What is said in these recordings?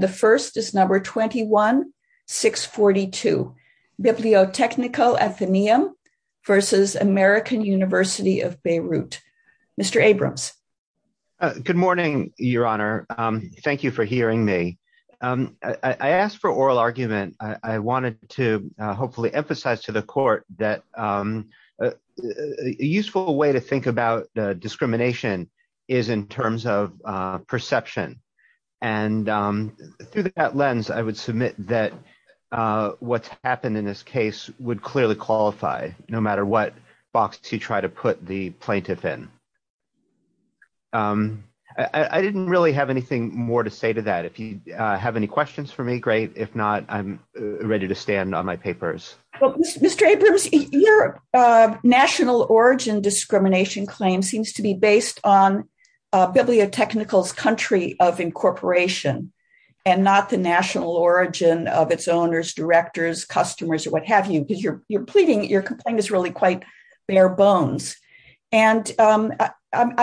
The first is number 21-642 Bibliotechnical Athenaeum v. American University of Beirut. Mr. Abrams. Good morning, Your Honor. Thank you for hearing me. I asked for oral argument. I wanted to hopefully emphasize to the court that a useful way to think about discrimination is in terms of perception, and through that lens, I would submit that what's happened in this case would clearly qualify, no matter what box you try to put the plaintiff in. I didn't really have anything more to say to that. If you have any questions for me, great. If not, I'm ready to stand on my papers. Mr. Abrams, your national origin discrimination claim seems to be based on Bibliotechnical's country of incorporation, and not the national origin of its owners, directors, customers, or what have you, because you're pleading, your complaint is really quite bare bones. And I'm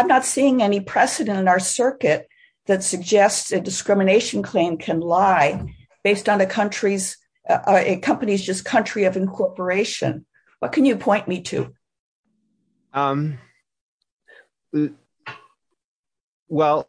not seeing any precedent in our circuit that suggests a discrimination claim can lie based on a company's country of incorporation. What can you point me to? Well,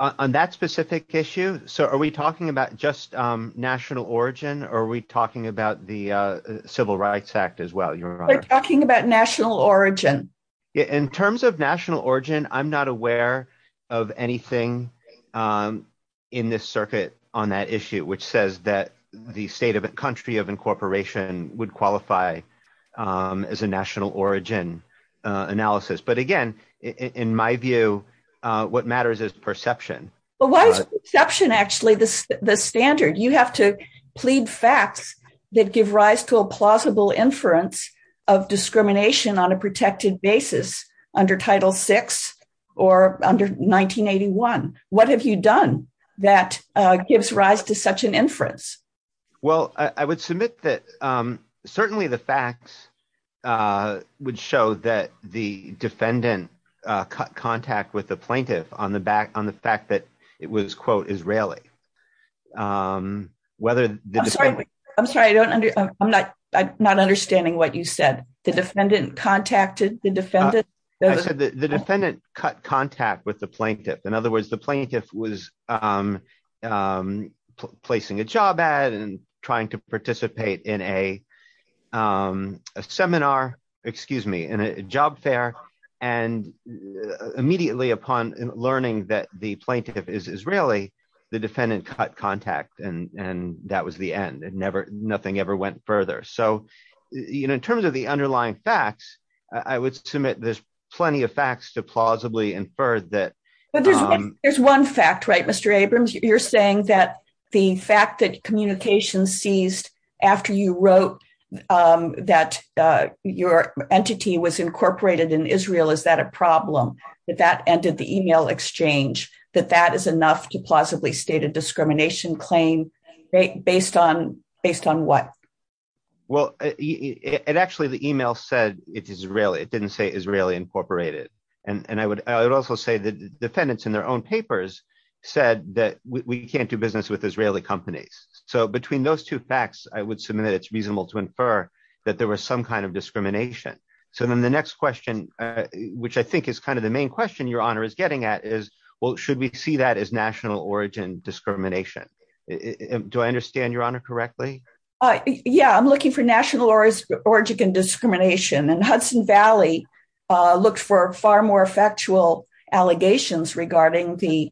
on that specific issue, are we talking about just national origin, or are we talking about the Civil Rights Act as well, Your Honor? We're talking about national origin. In terms of national origin, I'm not aware of anything in this circuit on that issue, which says that the state of a country of incorporation would qualify as a national origin analysis. But again, in my view, what matters is perception. But why is perception actually the standard? You have to plead facts that give rise to a plausible inference of discrimination on a protected basis under Title VI or under 1981. What have you done that gives rise to such an inference? Well, I would submit that certainly the facts would show that the defendant cut contact with the plaintiff on the fact that it was, quote, Israeli. I'm sorry, I'm not understanding what you said. The defendant contacted the defendant? I said that the defendant cut contact with the plaintiff. In other words, the plaintiff was placing a job ad and trying to participate in a seminar, excuse me, in a job fair. And immediately upon learning that the plaintiff is Israeli, the defendant cut contact, and that was the end. Nothing ever went further. So in terms of the underlying facts, I would submit there's plenty of facts to plausibly infer that. There's one fact, right, Mr. Abrams? You're saying that the fact that communication ceased after you wrote that your entity was incorporated in Israel, is that a problem, that that ended the email exchange, that that is enough to plausibly state a discrimination claim based on what? Well, it actually, the email said it's Israeli. It didn't say Israeli incorporated. And I would also say the defendants in their own papers said that we can't do business with Israeli companies. So between those two facts, I would submit it's reasonable to infer that there was some kind of discrimination. So then the next question, which I think is kind of the main question your honor is getting at is, well, should we see that as national origin discrimination? Do I understand your honor correctly? Yeah, I'm looking for national origin discrimination. And Hudson Valley looked for far more factual allegations regarding the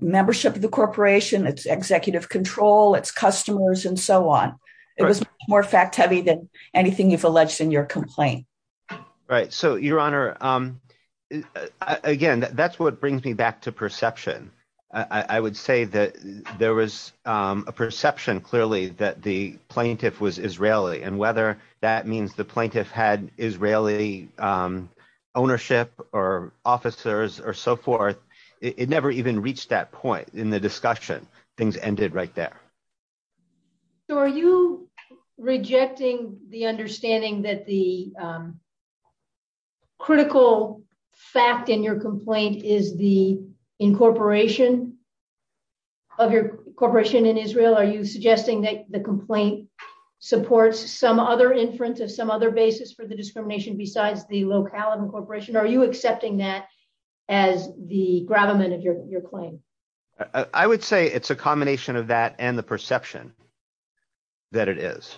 membership of the corporation, its executive control, its customers, and so on. It was more fact heavy than anything you've alleged in your complaint. Right. So your honor, again, that's what brings me back to perception. I would say that there was a perception clearly that the plaintiff was Israeli and whether that means the plaintiff had Israeli ownership or officers or so forth, it never even reached that point in the discussion. Things ended right there. So are you rejecting the understanding that the critical fact in your complaint is the incorporation of your corporation in Israel? Are you suggesting that the complaint supports some other inference of some other basis for the discrimination besides the locale of incorporation? Are you accepting that as the gravamen of your claim? I would say it's a combination of that and the perception that it is.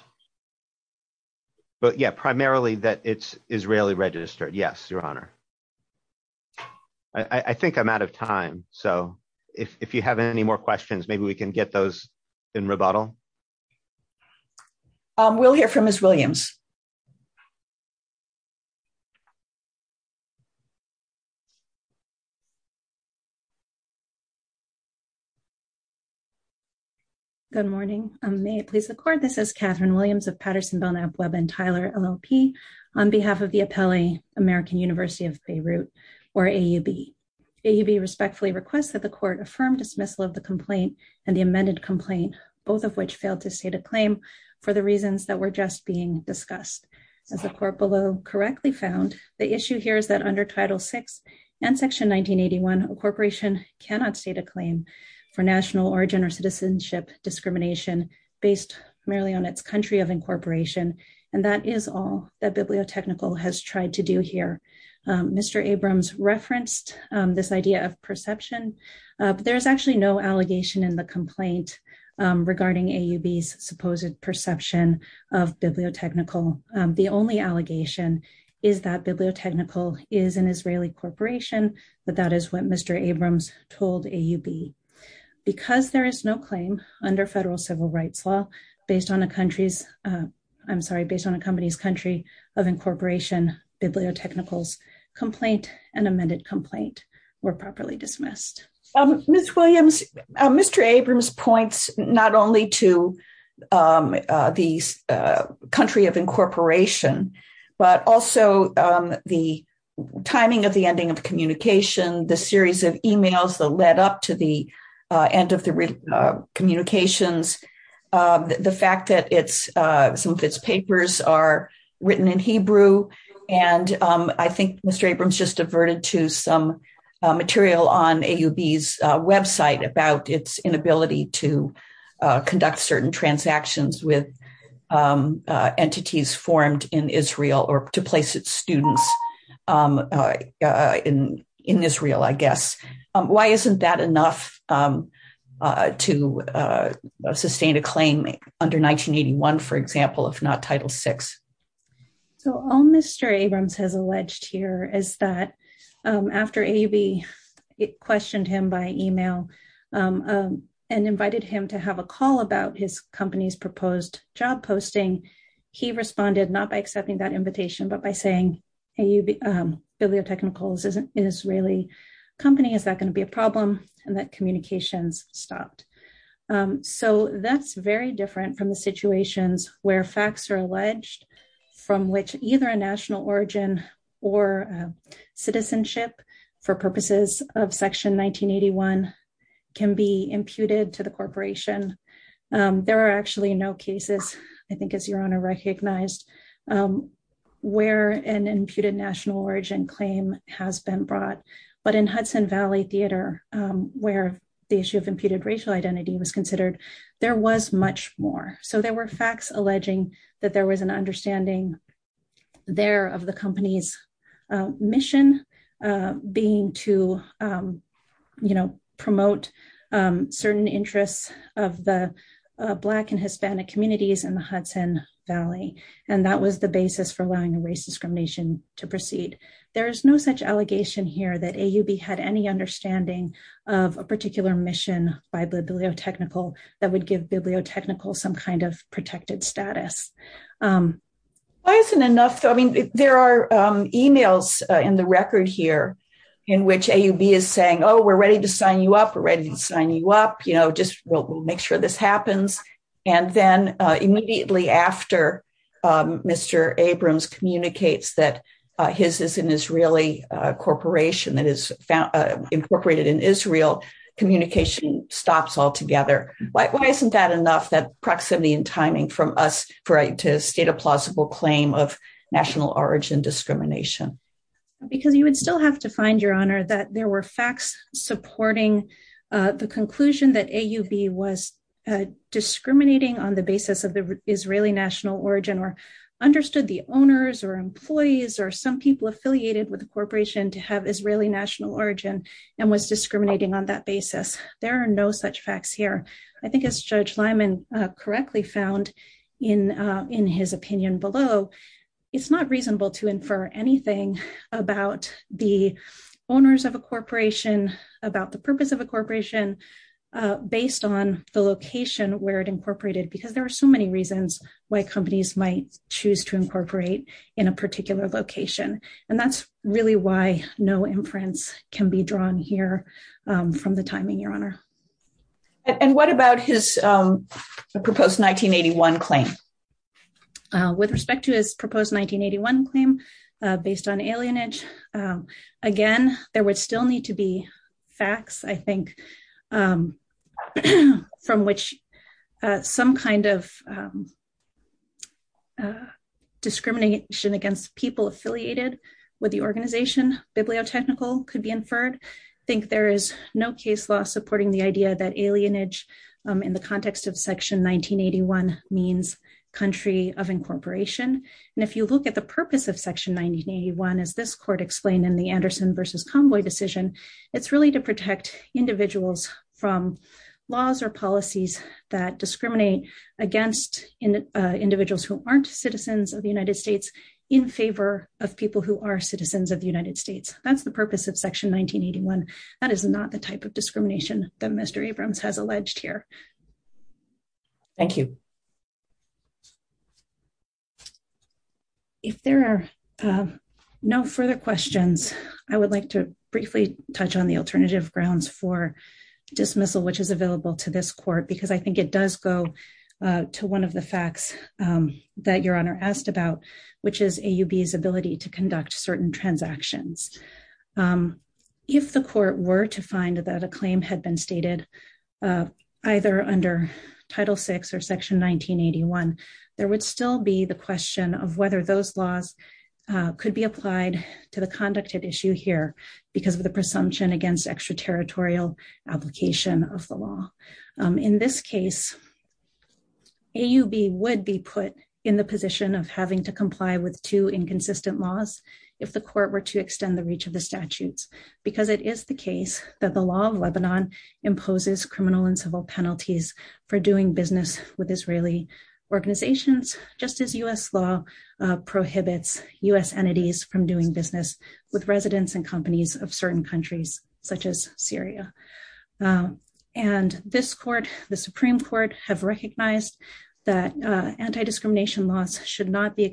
But yeah, primarily that it's Israeli registered. Yes, your honor. I think I'm out of time. So if you have any more questions, maybe we can get those in rebuttal. We'll hear from Ms. Williams. Good morning. May I please record? This is Catherine Williams of Patterson, Belknap, Webb, and Tyler, LLP. On behalf of the appellee, American University of Beirut, or AUB. AUB respectfully requests that the court affirm dismissal of the complaint and the amended complaint, both of which failed to state a claim for the reasons that were just being discussed. As the court below correctly found, the issue here is that under Title VI and Section 1981, a corporation cannot state a claim for national origin or citizenship discrimination based primarily on its country of incorporation. And that is all that Bibliotechnical has tried to do here. Mr. Abrams referenced this idea of perception, but there's actually no allegation in the complaint regarding AUB's supposed perception of Bibliotechnical. The only allegation is that Bibliotechnical is an Israeli corporation, but that is what Mr. Abrams told AUB. Because there is no claim under federal civil rights law based on a country's, I'm sorry, based on a company's country of incorporation, Bibliotechnical's complaint and amended complaint were properly dismissed. Ms. Williams, Mr. Abrams points not only to the country of incorporation, but also the end of the communications. The fact that some of its papers are written in Hebrew, and I think Mr. Abrams just averted to some material on AUB's website about its inability to conduct certain transactions with entities formed in Israel or to place its students in Israel, I guess. Why isn't that enough to sustain a claim under 1981, for example, if not Title VI? So all Mr. Abrams has alleged here is that after AUB questioned him by email and invited him to have a call about his company's proposed job posting, he responded not by accepting that invitation, but by saying, hey, Bibliotechnical is an Israeli company. Is that going to be a problem? And that communications stopped. So that's very different from the situations where facts are alleged from which either a national origin or citizenship for purposes of Section 1981 can be imputed to the corporation. There are actually no cases, I think, as Your Honor recognized, where an imputed national origin claim has been brought. But in Hudson Valley Theater, where the issue of imputed racial identity was considered, there was much more. So there were facts alleging that there was an understanding there of the company's mission being to, you know, promote certain interests of the Black and Hispanic communities in the Hudson Valley. And that was the basis for allowing a race discrimination to proceed. There is no such allegation here that AUB had any understanding of a particular mission by Bibliotechnical that would give Bibliotechnical some kind of protected status. Why isn't enough, I mean, there are emails in the record here in which AUB is saying, oh, we're ready to sign you up. We're ready to sign you up. You know, just we'll make sure this happens. And then immediately after Mr. Abrams communicates that his is an Israeli corporation that is incorporated in Israel, communication stops altogether. Why isn't that enough, that proximity and timing from us to state a plausible claim of national origin discrimination? Because you would still have to find, Your Honor, that there were facts supporting the conclusion that AUB was discriminating on the basis of the Israeli national origin or understood the owners or employees or some people affiliated with the corporation to have Israeli national origin and was discriminating on that basis. There are no such facts here. I think as Judge Lyman correctly found in his opinion below, it's not reasonable to infer anything about the owners of a corporation, about the purpose of a corporation based on the location where it incorporated, because there are so many reasons why companies might choose to incorporate in a particular location. And that's really why no inference can be drawn here from the timing, Your Honor. And what about his proposed 1981 claim? With respect to his proposed 1981 claim based on alienage, again, there would still need to be facts, I think, from which some kind of discrimination against people affiliated with the organization, bibliotechnical could be inferred. I think there is no case law supporting the idea that alienage in the context of Section 1981 means country of incorporation. And if you look at the purpose of Section 1981, as this court explained in the Anderson versus Convoy decision, it's really to protect individuals from laws or policies that discriminate against individuals who aren't citizens of the United States in favor of people who are citizens of the United States. That's the purpose of Section 1981. That is not the type of discrimination that Mr. Abrams has alleged here. Thank you. If there are no further questions, I would like to briefly touch on the alternative grounds for dismissal, which is available to this court, because I think it does go to one of the facts that Your Honor asked about, which is AUB's ability to conduct certain transactions. If the court were to find that a claim had been stated, either under Title VI or Section 1981, there would still be the question of whether those laws could be applied to the conduct at issue here because of the presumption against extraterritorial application of the law. In this case, AUB would be put in the position of having to comply with two inconsistent laws if the court were to extend the reach of the statutes, because it is the case that the law of Lebanon imposes criminal and civil penalties for doing business with Israeli organizations, just as U.S. law prohibits U.S. entities from doing business with residents and companies of certain countries, such as Syria. And this court, the Supreme Court, have recognized that anti-discrimination laws should not be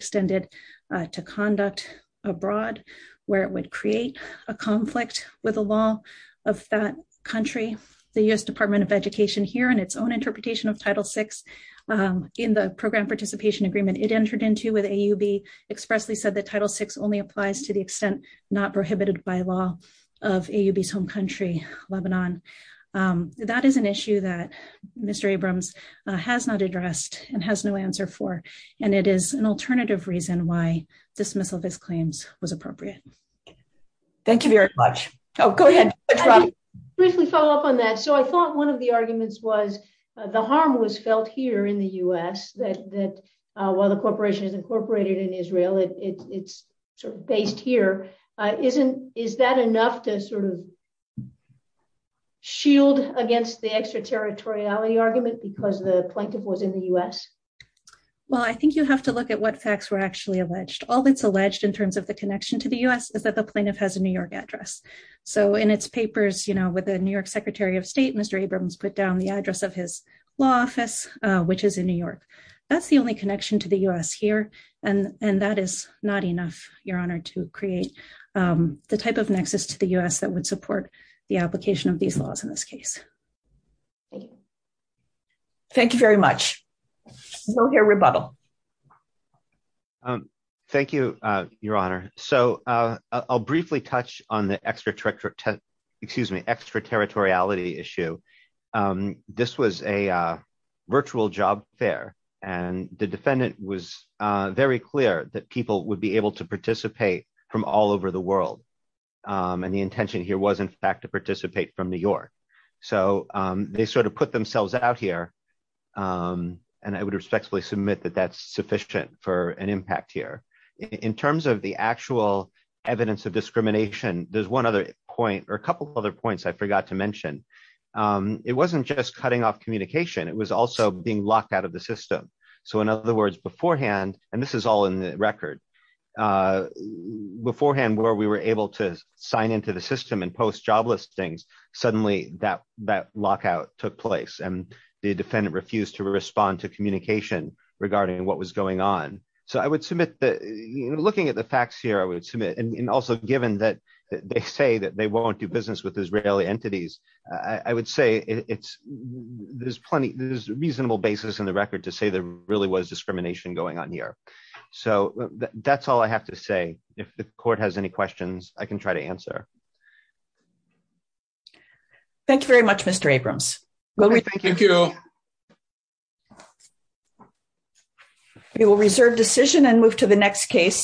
abroad, where it would create a conflict with the law of that country. The U.S. Department of Education here, in its own interpretation of Title VI, in the Program Participation Agreement it entered into with AUB, expressly said that Title VI only applies to the extent not prohibited by law of AUB's home country, Lebanon. That is an issue that Mr. Abrams has not addressed and has no answer for, and it is an extremely difficult issue, and I'm not sure that all of his claims was appropriate. Thank you very much. Oh, go ahead, Robby. I'll just briefly follow up on that. So I thought one of the arguments was the harm was felt here in the U.S. that while the Corporation is incorporated in Israel, it's sort of based here. Is that enough to sort of shield against the extraterritoriality argument because the plaintiff was in the U.S.? The only connection to the U.S. is that the plaintiff has a New York address. So in its papers, you know, with the New York Secretary of State, Mr. Abrams put down the address of his law office, which is in New York. That's the only connection to the U.S. here, and that is not enough, Your Honor, to create the type of nexus to the U.S. that would support the application of these laws in this case. Thank you. Thank you very much. We'll hear rebuttal. Thank you, Your Honor. So I'll briefly touch on the extraterritoriality issue. This was a virtual job fair, and the defendant was very clear that people would be able to participate from all over the world, and the intention here was, in fact, to participate from New York. So they sort of put themselves out here, and I would respectfully submit that that is not sufficient for an impact here. In terms of the actual evidence of discrimination, there's one other point, or a couple of other points I forgot to mention. It wasn't just cutting off communication. It was also being locked out of the system. So in other words, beforehand, and this is all in the record, beforehand, where we were able to sign into the system and post job listings, suddenly that lockout took place, and the defendant refused to respond to communication regarding what was going on. So I would submit that, looking at the facts here, I would submit, and also given that they say that they won't do business with Israeli entities, I would say it's, there's plenty, there's a reasonable basis in the record to say there really was discrimination going on here. So that's all I have to say. If the court has any questions, I can try to answer. Thank you very much, Mr. Abrams. Thank you. We will reserve decision and move to the next case.